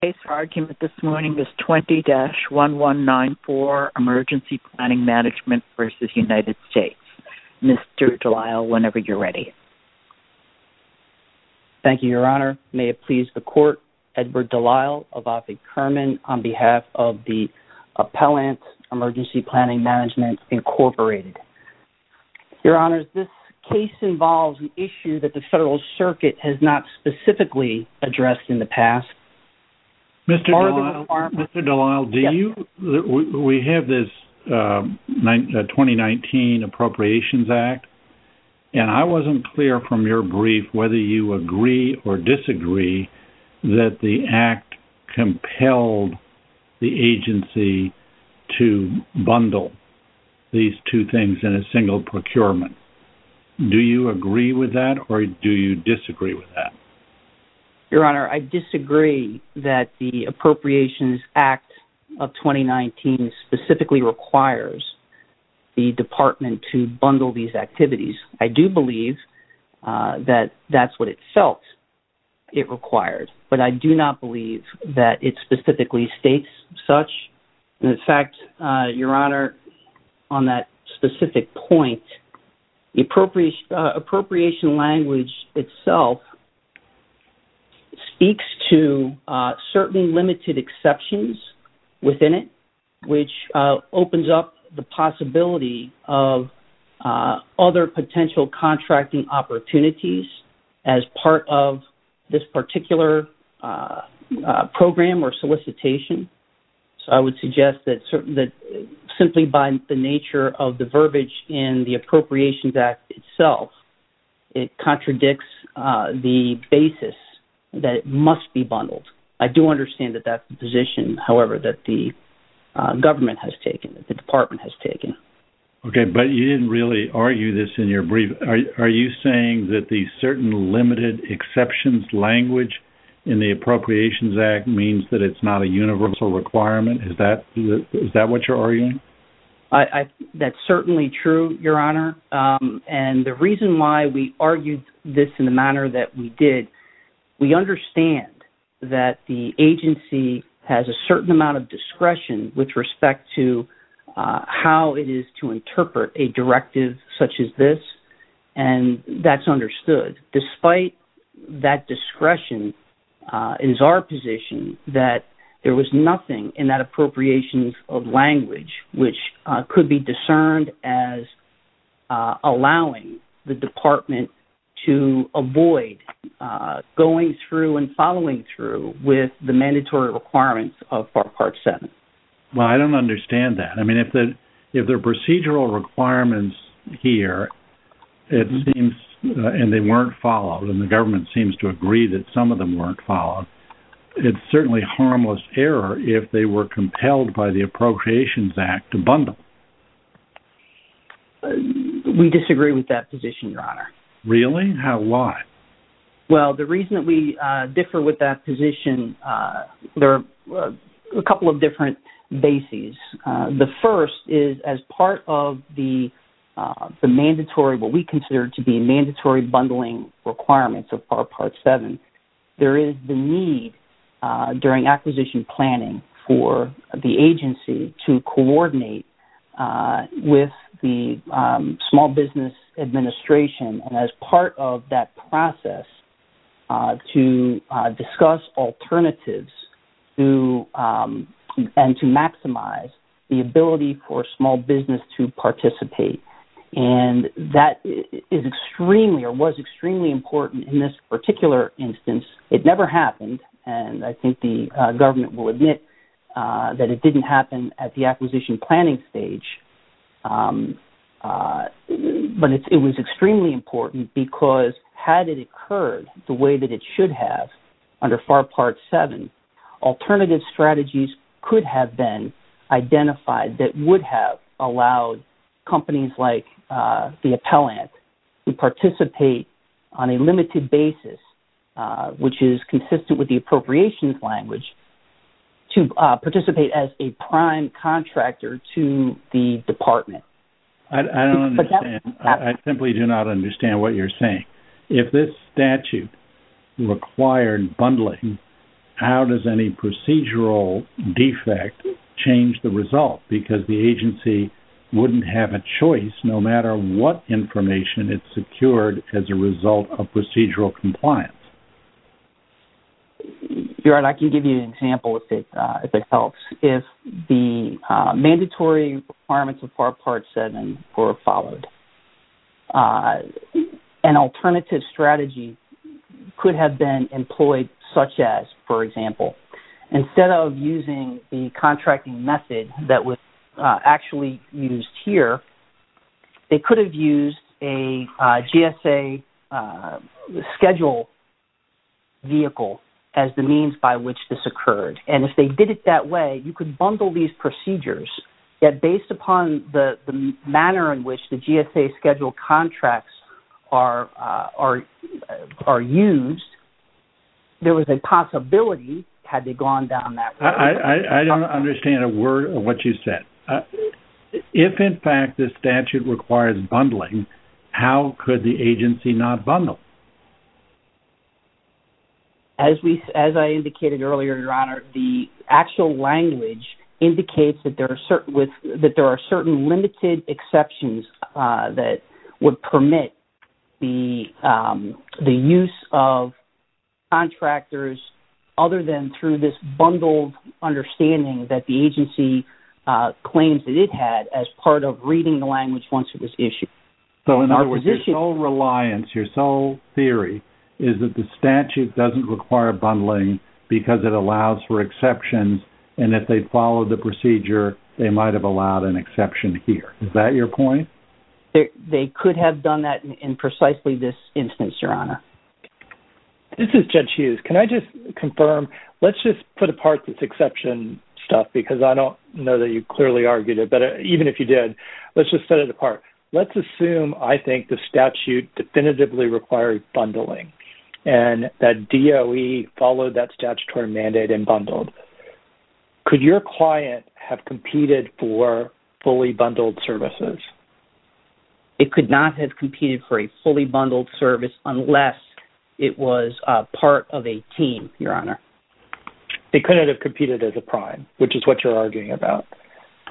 The case argument this morning is 20-1194 Emergency Planning Management v. United States. Mr. Delisle, whenever you're ready. Thank you, Your Honor. May it please the Court, Edward Delisle v. Kerman on behalf of the Appellant Emergency Planning Management, Incorporated. Your Honor, this case involves an issue that the Federal Circuit has not specifically addressed in the past. Mr. Delisle, we have this 2019 Appropriations Act, and I wasn't clear from your brief whether you agree or disagree that the Act compelled the agency to bundle these two things in a single procurement. Do you agree with that, or do you disagree with that? Your Honor, I disagree that the Appropriations Act of 2019 specifically requires the Department to bundle these activities. I do believe that that's what it felt it required, but I do not believe that it specifically states such. In fact, Your Honor, on that specific point, the appropriation language itself speaks to certain limited exceptions within it, which opens up the possibility of other potential contracting opportunities as part of this particular program or solicitation. So I would suggest that simply by the nature of the verbiage in the Appropriations Act itself, it contradicts the basis that it must be bundled. I do understand that that's the position, however, that the government has taken, that the Department has taken. Okay, but you didn't really argue this in your brief. Are you saying that the certain limited exceptions language in the Appropriations Act means that it's not a universal requirement? Is that what you're arguing? That's certainly true, Your Honor. And the reason why we argued this in the manner that we did, we understand that the agency has a certain amount of discretion with respect to how it is to interpret a directive such as this, and that's understood. But despite that discretion, it is our position that there was nothing in that appropriations of language which could be discerned as allowing the Department to avoid going through and following through with the mandatory requirements of Part 7. Well, I don't understand that. I mean, if there are procedural requirements here, and they weren't followed, and the government seems to agree that some of them weren't followed, it's certainly harmless error if they were compelled by the Appropriations Act to bundle. We disagree with that position, Your Honor. Really? Why? Well, the reason that we differ with that position, there are a couple of different bases. The first is as part of the mandatory, what we consider to be mandatory bundling requirements of Part 7, there is the need during acquisition planning for the agency to coordinate with the Small Business Administration. And as part of that process, to discuss alternatives and to maximize the ability for small business to participate. And that is extremely or was extremely important in this particular instance. It never happened, and I think the government will admit that it didn't happen at the acquisition planning stage. But it was extremely important because had it occurred the way that it should have under FAR Part 7, alternative strategies could have been identified that would have allowed companies like the appellant to participate on a limited basis, which is consistent with the appropriations language, to participate as a prime contractor to the department. I don't understand. I simply do not understand what you're saying. If this statute required bundling, how does any procedural defect change the result? Because the agency wouldn't have a choice no matter what information it secured as a result of procedural compliance. Gerard, I can give you an example if it helps. If the mandatory requirements of FAR Part 7 were followed, an alternative strategy could have been employed such as, for example, instead of using the contracting method that was actually used here, they could have used a GSA schedule vehicle as the means by which this occurred. And if they did it that way, you could bundle these procedures, yet based upon the manner in which the GSA schedule contracts are used, there was a possibility had they gone down that route. I don't understand a word of what you said. If, in fact, this statute requires bundling, how could the agency not bundle? As I indicated earlier, Your Honor, the actual language indicates that there are certain limited exceptions that would permit the use of contractors other than through this bundled understanding that the agency claims that it had as part of reading the language once it was issued. So, in other words, your sole reliance, your sole theory is that the statute doesn't require bundling because it allows for exceptions, and if they followed the procedure, they might have allowed an exception here. Is that your point? They could have done that in precisely this instance, Your Honor. This is Judge Hughes. Can I just confirm? Let's just put apart this exception stuff because I don't know that you clearly argued it, but even if you did, let's just set it apart. Let's assume, I think, the statute definitively required bundling and that DOE followed that statutory mandate and bundled. Could your client have competed for fully bundled services? It could not have competed for a fully bundled service unless it was part of a team, Your Honor. They couldn't have competed as a prime, which is what you're arguing about.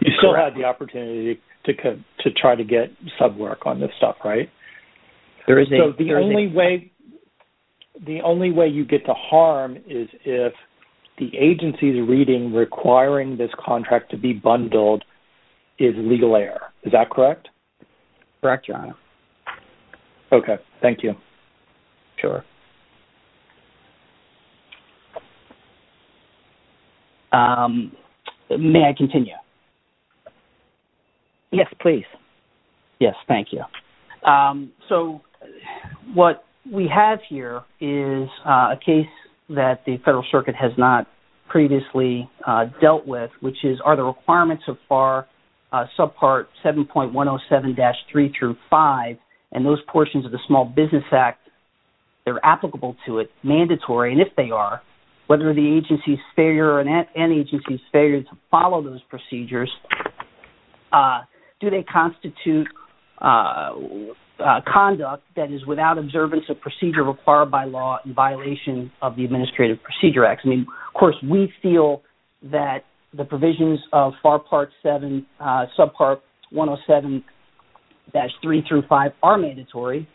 You still had the opportunity to try to get some work on this stuff, right? So, the only way you get to harm is if the agency's reading requiring this contract to be bundled is legal error. Is that correct? Correct, Your Honor. Okay. Thank you. Sure. May I continue? Yes, please. Yes, thank you. So, what we have here is a case that the Federal Circuit has not previously dealt with, which is, are the requirements of FAR Subpart 7.107-3 through 5 and those portions of the Small Business Act, they're applicable to it, mandatory? And if they are, whether the agency's failure or an agency's failure to follow those procedures, do they constitute conduct that is without observance of procedure required by law in violation of the Administrative Procedure Act? I mean, of course, we feel that the provisions of FAR Part 7 Subpart 107-3 through 5 are mandatory.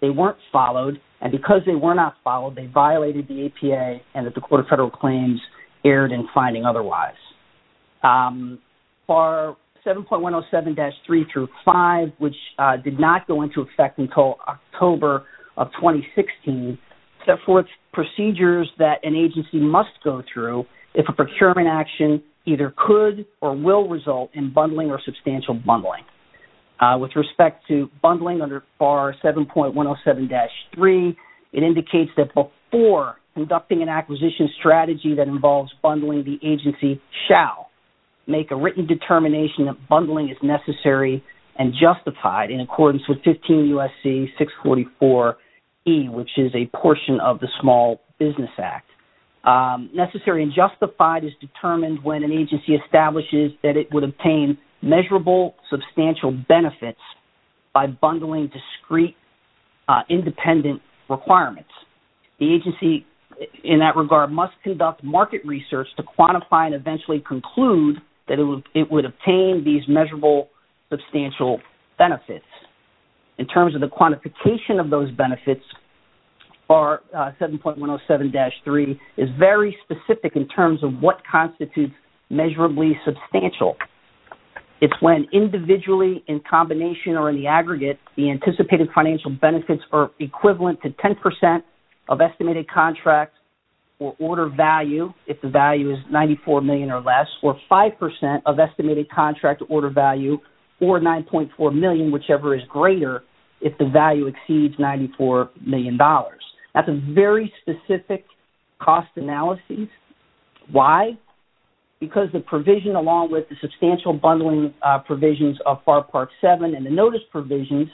They weren't followed. And because they were not followed, they violated the APA and that the Court of Federal Claims erred in finding otherwise. FAR 7.107-3 through 5, which did not go into effect until October of 2016, set forth procedures that an agency must go through if a procurement action either could or will result in bundling or substantial bundling. With respect to bundling under FAR 7.107-3, it indicates that before conducting an acquisition strategy that involves bundling, the agency shall make a written determination that bundling is necessary and justified in accordance with 15 U.S.C. 644-E, which is a portion of the Small Business Act. Necessary and justified is determined when an agency establishes that it would obtain measurable substantial benefits by bundling discrete independent requirements. The agency, in that regard, must conduct market research to quantify and eventually conclude that it would obtain these measurable substantial benefits. In terms of the quantification of those benefits, FAR 7.107-3 is very specific in terms of what constitutes measurably substantial. It's when individually, in combination, or in the aggregate, the anticipated financial benefits are equivalent to 10% of estimated contract or order value, if the value is $94 million or less, or 5% of estimated contract order value, or $9.4 million, whichever is greater, if the value exceeds $94 million. That's a very specific cost analysis. Why? Because the provision along with the substantial bundling provisions of FAR Part 7 and the notice provisions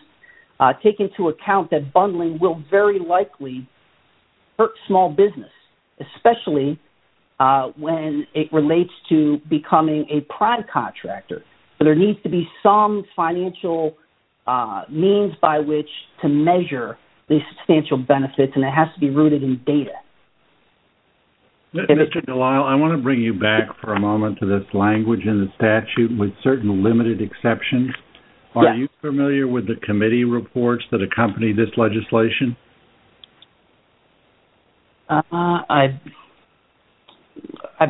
take into account that bundling will very likely hurt small business, especially when it relates to becoming a prime contractor. So there needs to be some financial means by which to measure the substantial benefits, and it has to be rooted in data. Mr. Delisle, I want to bring you back for a moment to this language in the statute, with certain limited exceptions. Yes. Are you familiar with the committee reports that accompany this legislation? I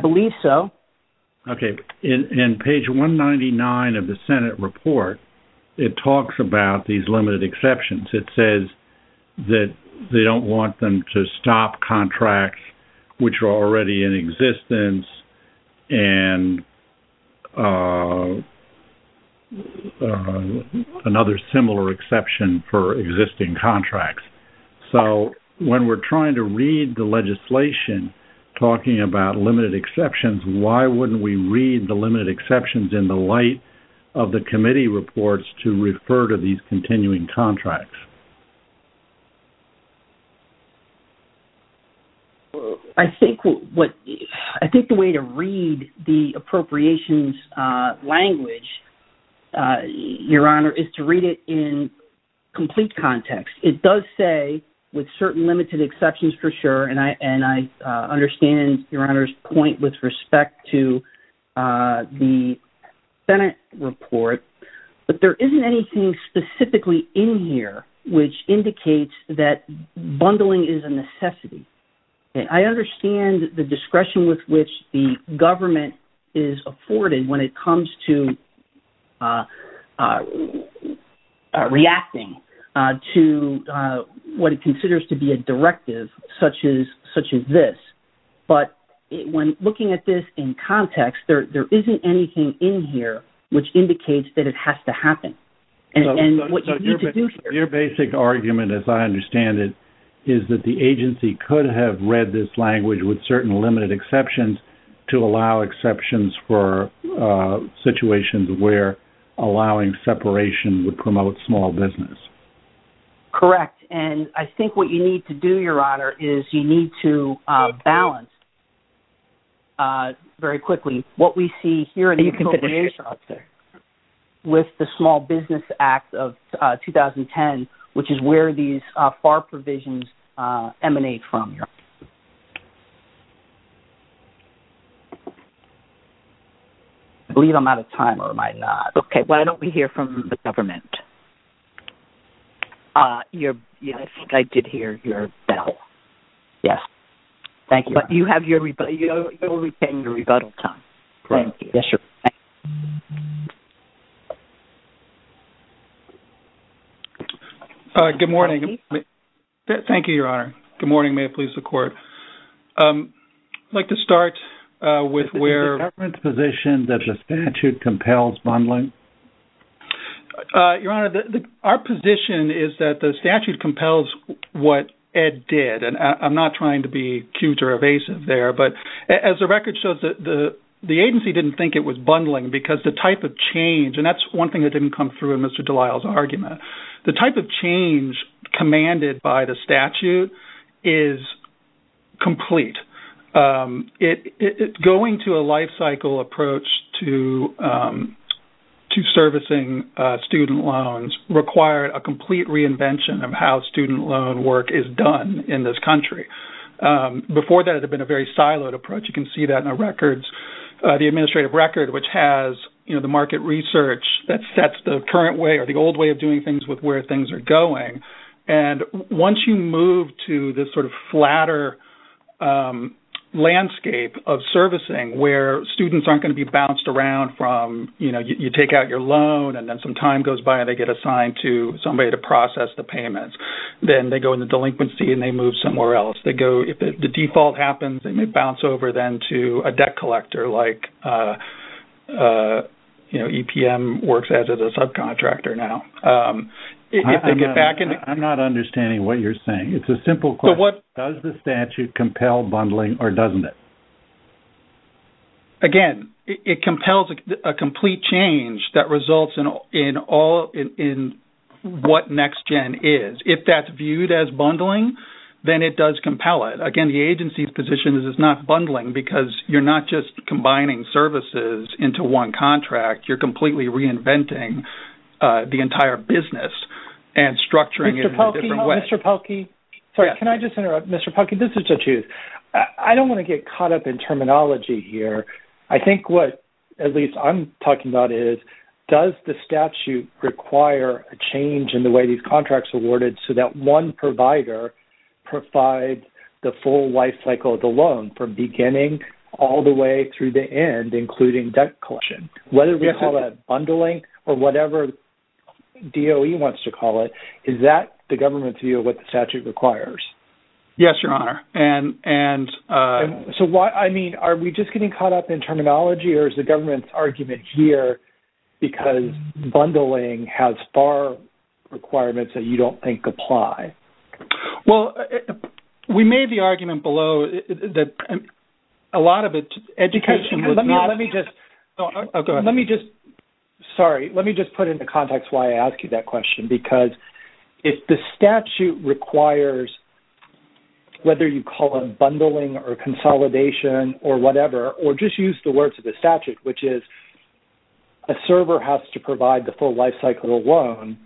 believe so. Okay. In page 199 of the Senate report, it talks about these limited exceptions. It says that they don't want them to stop contracts which are already in existence and another similar exception for existing contracts. So when we're trying to read the legislation talking about limited exceptions, why wouldn't we read the limited exceptions in the light of the committee reports to refer to these continuing contracts? I think the way to read the appropriations language, Your Honor, is to read it in complete context. It does say, with certain limited exceptions for sure, and I understand Your Honor's point with respect to the Senate report, but there isn't anything specifically in here which indicates that bundling is a necessity. I understand the discretion with which the government is afforded when it comes to reacting to what it considers to be a directive such as this, but when looking at this in context, there isn't anything in here which indicates that it has to happen. Your basic argument, as I understand it, is that the agency could have read this language with certain limited exceptions to allow exceptions for situations where allowing separation would promote small business. Correct. And I think what you need to do, Your Honor, is you need to balance very quickly what we see here with the Small Business Act of 2010, which is where these FAR provisions emanate from. I believe I'm out of time, or am I not? Okay, why don't we hear from the government? I think I did hear your bell. Yes. Thank you, Your Honor. But you will be paying your rebuttal time. Thank you. Yes, sir. Thank you, Your Honor. Good morning. May it please the Court. I'd like to start with where... Is the government's position that the statute compels bundling? Your Honor, our position is that the statute compels what Ed did, and I'm not trying to be cute or evasive there, but as the record shows, the agency didn't think it was bundling because the type of change, and that's one thing that didn't come through in Mr. Delisle's argument, the type of change commanded by the statute is complete. Going to a lifecycle approach to servicing student loans required a complete reinvention of how student loan work is done in this country. Before that, it had been a very siloed approach. You can see that in the administrative record, which has the market research that sets the current way or the old way of doing things with where things are going. And once you move to this sort of flatter landscape of servicing where students aren't going to be bounced around from, you know, you take out your loan and then some time goes by and they get assigned to somebody to process the payments. Then they go into delinquency and they move somewhere else. If the default happens, they may bounce over then to a debt collector, like, you know, EPM works as a subcontractor now. I'm not understanding what you're saying. It's a simple question. Does the statute compel bundling or doesn't it? Again, it compels a complete change that results in what NextGen is. If that's viewed as bundling, then it does compel it. Again, the agency's position is it's not bundling because you're not just combining services into one contract. You're completely reinventing the entire business and structuring it in a different way. Mr. Polky, can I just interrupt? Mr. Polky, this is to choose. I don't want to get caught up in terminology here. I think what at least I'm talking about is does the statute require a change in the way these contracts are awarded so that one provider provides the full life cycle of the loan from beginning all the way through the end, including debt collection? Whether we call that bundling or whatever DOE wants to call it, is that the government's view of what the statute requires? Yes, Your Honor. I mean, are we just getting caught up in terminology or is the government's argument here because bundling has FAR requirements that you don't think apply? Well, we made the argument below that a lot of education is not... Let me just... Go ahead. Sorry, let me just put into context why I asked you that question because if the statute requires, whether you call it bundling or consolidation or whatever, or just use the words of the statute, which is a server has to provide the full life cycle of a loan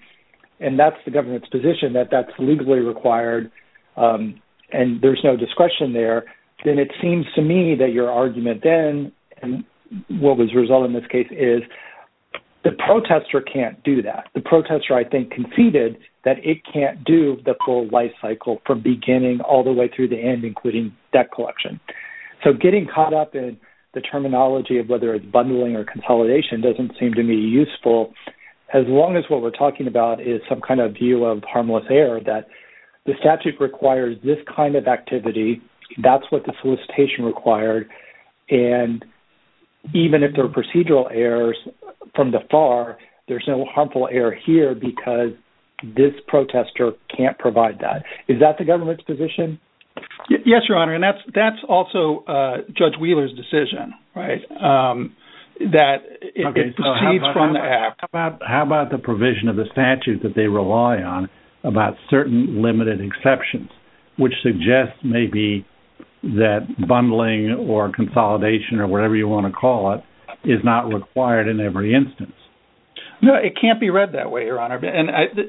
and that's the government's position that that's legally required and there's no discretion there, then it seems to me that your argument then and what was resolved in this case is the protester can't do that. The protester, I think, conceded that it can't do the full life cycle from beginning all the way through the end, including debt collection. So getting caught up in the terminology of whether it's bundling or consolidation doesn't seem to me useful as long as what we're talking about is some kind of view of harmless error that the statute requires this kind of activity, that's what the solicitation required, and even if there are procedural errors from the FAR, there's no harmful error here because this protester can't provide that. Is that the government's position? Yes, Your Honor, and that's also Judge Wheeler's decision, right, that it proceeds from the act. How about the provision of the statute that they rely on about certain limited exceptions, which suggests maybe that bundling or consolidation or whatever you want to call it is not required in every instance? No, it can't be read that way, Your Honor, and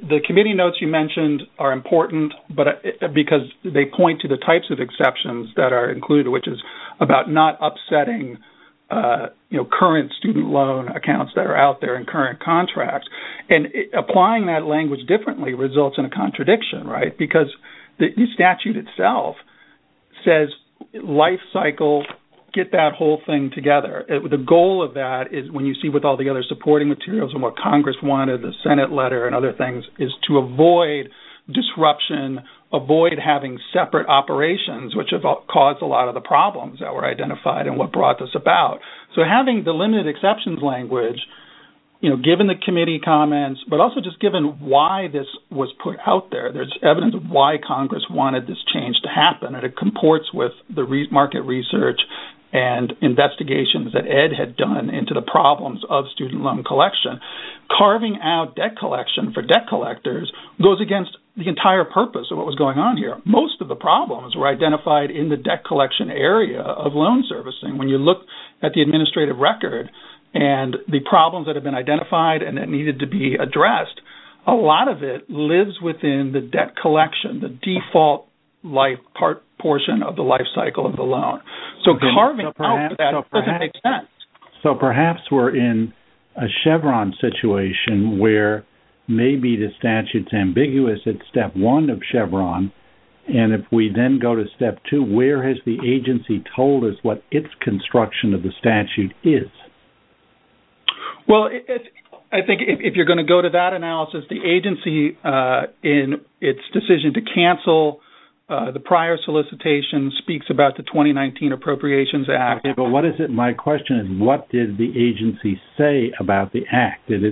the committee notes you mentioned are important because they point to the types of exceptions that are included, which is about not upsetting current student loan accounts that are out there in current contracts, and applying that language differently results in a contradiction, right, because the statute itself says life cycle, get that whole thing together. The goal of that is when you see with all the other supporting materials and what Congress wanted, the Senate letter and other things, is to avoid disruption, avoid having separate operations, which have caused a lot of the problems that were identified and what brought this about. So having the limited exceptions language, given the committee comments, but also just given why this was put out there, there's evidence of why Congress wanted this change to happen, and it comports with the market research and investigations that Ed had done into the problems of student loan collection. Carving out debt collection for debt collectors goes against the entire purpose of what was going on here. Most of the problems were identified in the debt collection area of loan servicing. When you look at the administrative record and the problems that have been identified and that needed to be addressed, a lot of it lives within the debt collection, the default portion of the life cycle of the loan. So carving out that doesn't make sense. So perhaps we're in a Chevron situation where maybe the statute's ambiguous at Step 1 of Chevron, and if we then go to Step 2, where has the agency told us what its construction of the statute is? Well, I think if you're going to go to that analysis, the agency, in its decision to cancel the prior solicitation, speaks about the 2019 Appropriations Act. My question is, what did the agency say about the Act? Did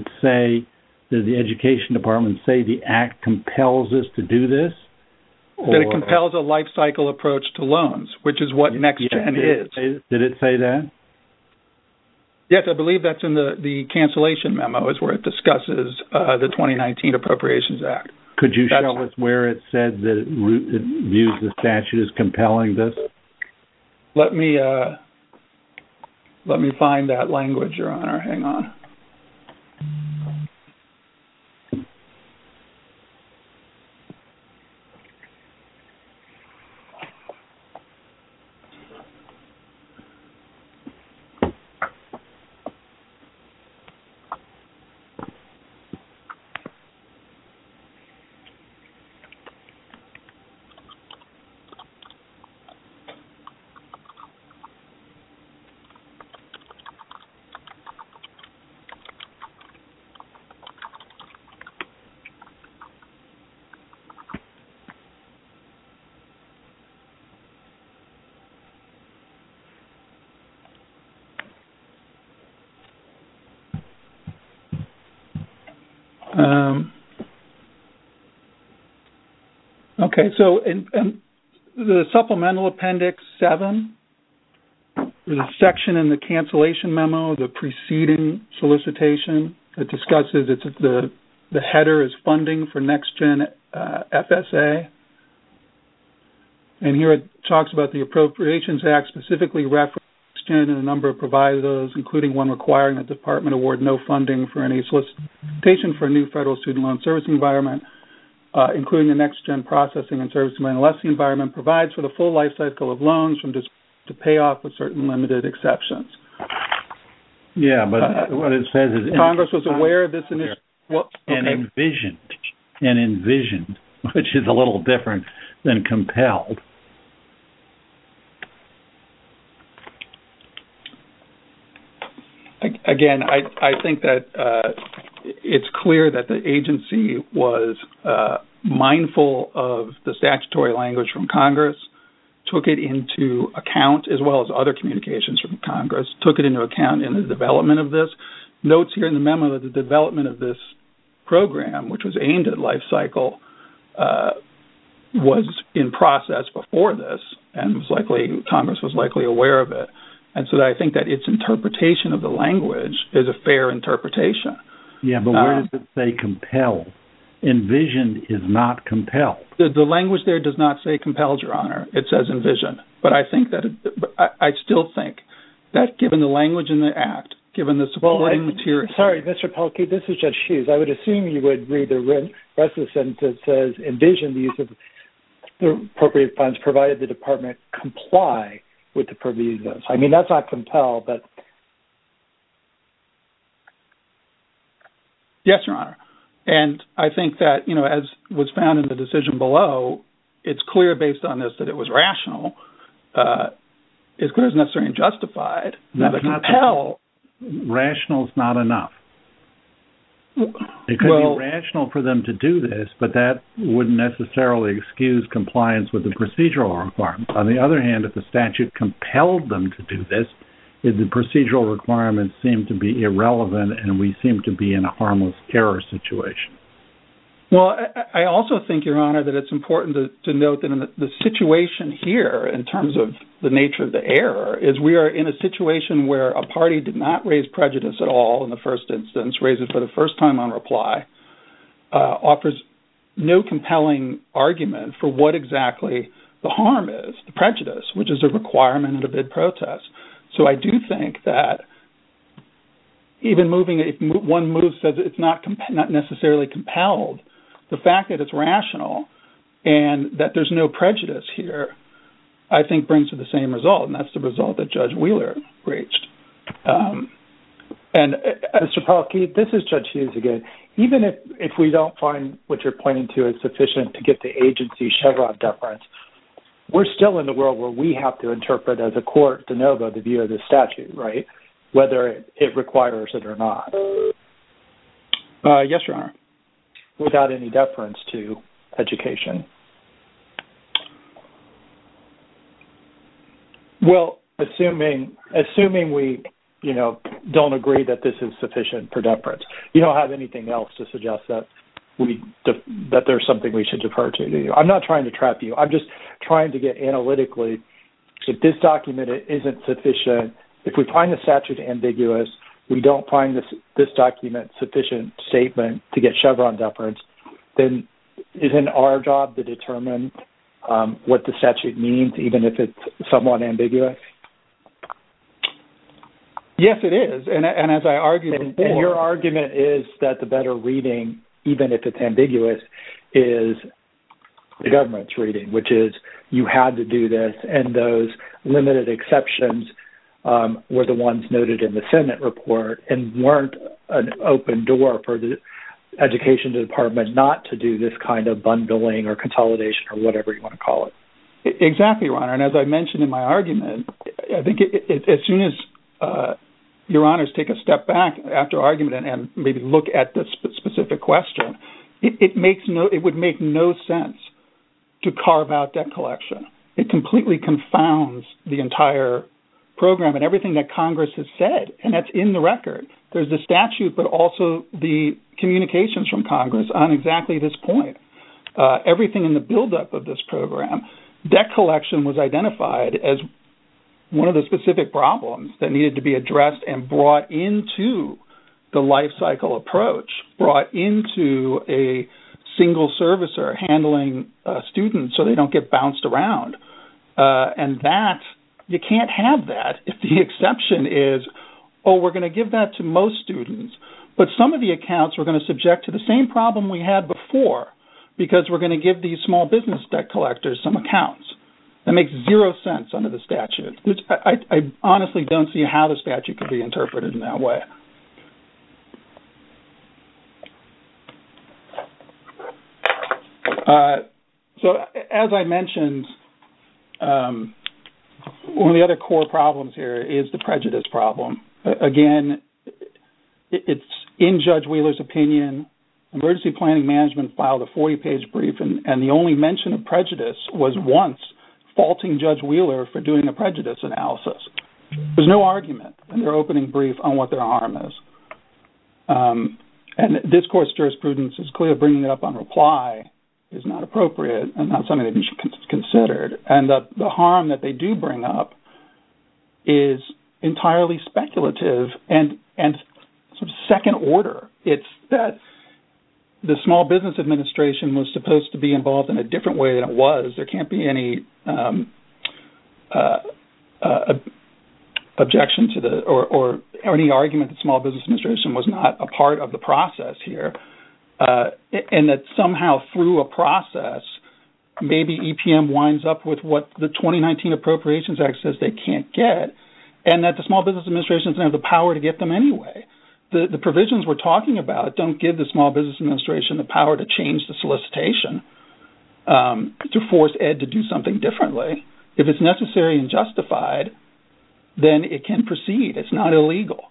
the Education Department say the Act compels us to do this? That it compels a life cycle approach to loans, which is what NextGen is. Did it say that? Yes, I believe that's in the cancellation memo is where it discusses the 2019 Appropriations Act. Could you show us where it said that it views the statute as compelling this? Let me find that language, Your Honor. Hang on. Okay. So the Supplemental Appendix 7, there's a section in the cancellation memo, the preceding solicitation, that discusses the header as funding for NextGen FSA. And here it talks about the Appropriations Act specifically referencing NextGen and a number of provisos, including one requiring the department award no funding for any solicitation for a new federal student loan service environment, including a NextGen processing and servicing money unless the environment provides for the full life cycle of loans to pay off with certain limited exceptions. Yeah, but what it says is Congress was aware of this and envisioned, and envisioned, which is a little different than compelled. Again, I think that it's clear that the agency was mindful of the statutory language from Congress, took it into account, as well as other communications from Congress, took it into account in the development of this. Notes here in the memo that the development of this program, which was aimed at life cycle, was in process before this, and Congress was likely aware of it. And so I think that its interpretation of the language is a fair interpretation. Yeah, but where does it say compelled? Envisioned is not compelled. The language there does not say compelled, Your Honor. It says envisioned. But I think that – I still think that given the language in the act, given the supporting material – Sorry, Mr. Polky, this is Judge Hughes. I would assume you would read the rest of the sentence that says envisioned the use of appropriate funds provided the department comply with the provisos. I mean, that's not compelled, but – Yes, Your Honor. And I think that, you know, as was found in the decision below, it's clear based on this that it was rational. It's clear it's necessary and justified. Now, the compel – Rational is not enough. It could be rational for them to do this, but that wouldn't necessarily excuse compliance with the procedural requirements. On the other hand, if the statute compelled them to do this, the procedural requirements seem to be irrelevant and we seem to be in a harmless error situation. Well, I also think, Your Honor, that it's important to note that the situation here, in terms of the nature of the error, is we are in a situation where a party did not raise prejudice at all in the first instance, raised it for the first time on reply, offers no compelling argument for what exactly the harm is, the prejudice, which is a requirement in a bid protest. So I do think that even moving – if one move says it's not necessarily compelled, the fact that it's rational and that there's no prejudice here, I think brings to the same result, and that's the result that Judge Wheeler reached. And, Mr. Policky, this is Judge Hughes again. Even if we don't find what you're pointing to is sufficient to get the agency Chevron deference, we're still in the world where we have to interpret as a court de novo the view of this statute, right, whether it requires it or not. Yes, Your Honor. Without any deference to education. Well, assuming we, you know, don't agree that this is sufficient for deference, you don't have anything else to suggest that there's something we should defer to. I'm not trying to trap you. I'm just trying to get analytically if this document isn't sufficient, if we find the statute ambiguous, we don't find this document sufficient statement to get Chevron deference, then isn't our job to determine what the statute means even if it's somewhat ambiguous? Yes, it is. And as I argued before. And your argument is that the better reading, even if it's ambiguous, is the government's reading, which is you had to do this. And those limited exceptions were the ones noted in the Senate report and weren't an open door for the education department not to do this kind of bundling or consolidation or whatever you want to call it. Exactly, Your Honor. And as I mentioned in my argument, I think as soon as Your Honors take a step back after argument and maybe look at this specific question, it would make no sense to carve out debt collection. It completely confounds the entire program and everything that Congress has said, and that's in the record. There's the statute, but also the communications from Congress on exactly this point. Everything in the buildup of this program, debt collection was identified as one of the specific problems that needed to be addressed and brought into the lifecycle approach, brought into a single servicer handling students so they don't get bounced around. And that, you can't have that if the exception is, oh, we're going to give that to most students, but some of the accounts we're going to subject to the same problem we had before because we're going to give these small business debt collectors some accounts. That makes zero sense under the statute. I honestly don't see how the statute could be interpreted in that way. So as I mentioned, one of the other core problems here is the prejudice problem. Again, it's in Judge Wheeler's opinion. Emergency planning management filed a 40-page brief, and the only mention of prejudice was once faulting Judge Wheeler for doing a prejudice analysis. There's no argument in their opening brief on what their harm is. And discourse jurisprudence is clear. Bringing it up on reply is not appropriate and not something that should be considered. And the harm that they do bring up is entirely speculative and second-order. It's that the Small Business Administration was supposed to be involved in a different way than it was. There can't be any objection to the – or any argument that Small Business Administration was not a part of the process here. And that somehow through a process, maybe EPM winds up with what the 2019 Appropriations Act says they can't get, and that the Small Business Administration doesn't have the power to get them anyway. The provisions we're talking about don't give the Small Business Administration the power to change the solicitation, to force Ed to do something differently. If it's necessary and justified, then it can proceed. It's not illegal.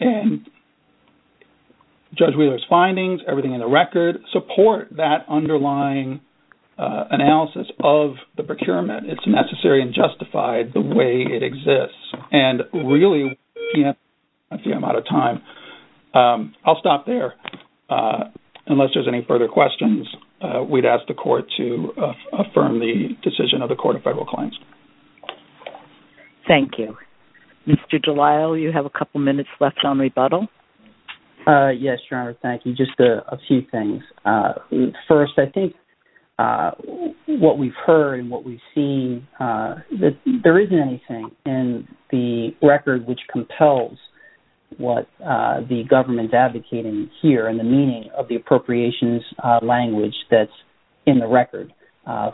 And Judge Wheeler's findings, everything in the record, support that underlying analysis of the procurement. It's necessary and justified the way it exists. And really, EPM is out of time. I'll stop there. Unless there's any further questions, we'd ask the Court to affirm the decision of the Court of Federal Claims. Thank you. Mr. Delisle, you have a couple minutes left on rebuttal. Yes, Your Honor, thank you. Just a few things. First, I think what we've heard and what we've seen, there isn't anything in the record which compels what the government's advocating here and the meaning of the appropriations language that's in the record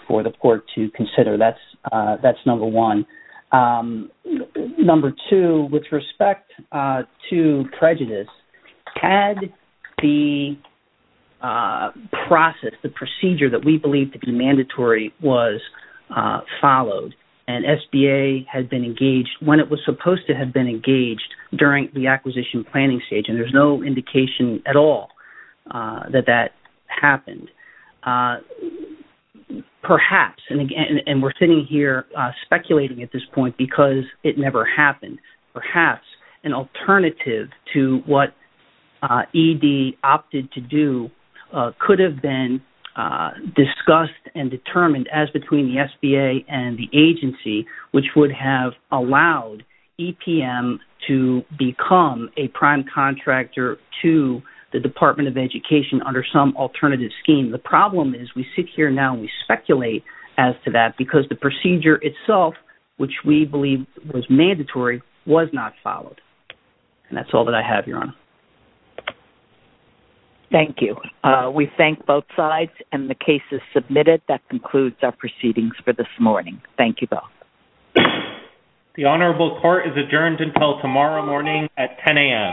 for the Court to consider. That's number one. Number two, with respect to prejudice, had the process, the procedure that we believe to be mandatory, was followed and SBA had been engaged when it was supposed to have been engaged during the acquisition planning stage and there's no indication at all that that happened, perhaps, and we're sitting here speculating at this point because it never happened. Perhaps an alternative to what ED opted to do could have been discussed and determined, as between the SBA and the agency, which would have allowed EPM to become a prime contractor to the Department of Education under some alternative scheme. The problem is we sit here now and we speculate as to that because the procedure itself, which we believe was mandatory, was not followed. And that's all that I have, Your Honor. Thank you. We thank both sides and the case is submitted. That concludes our proceedings for this morning. Thank you both. The Honorable Court is adjourned until tomorrow morning at 10 a.m.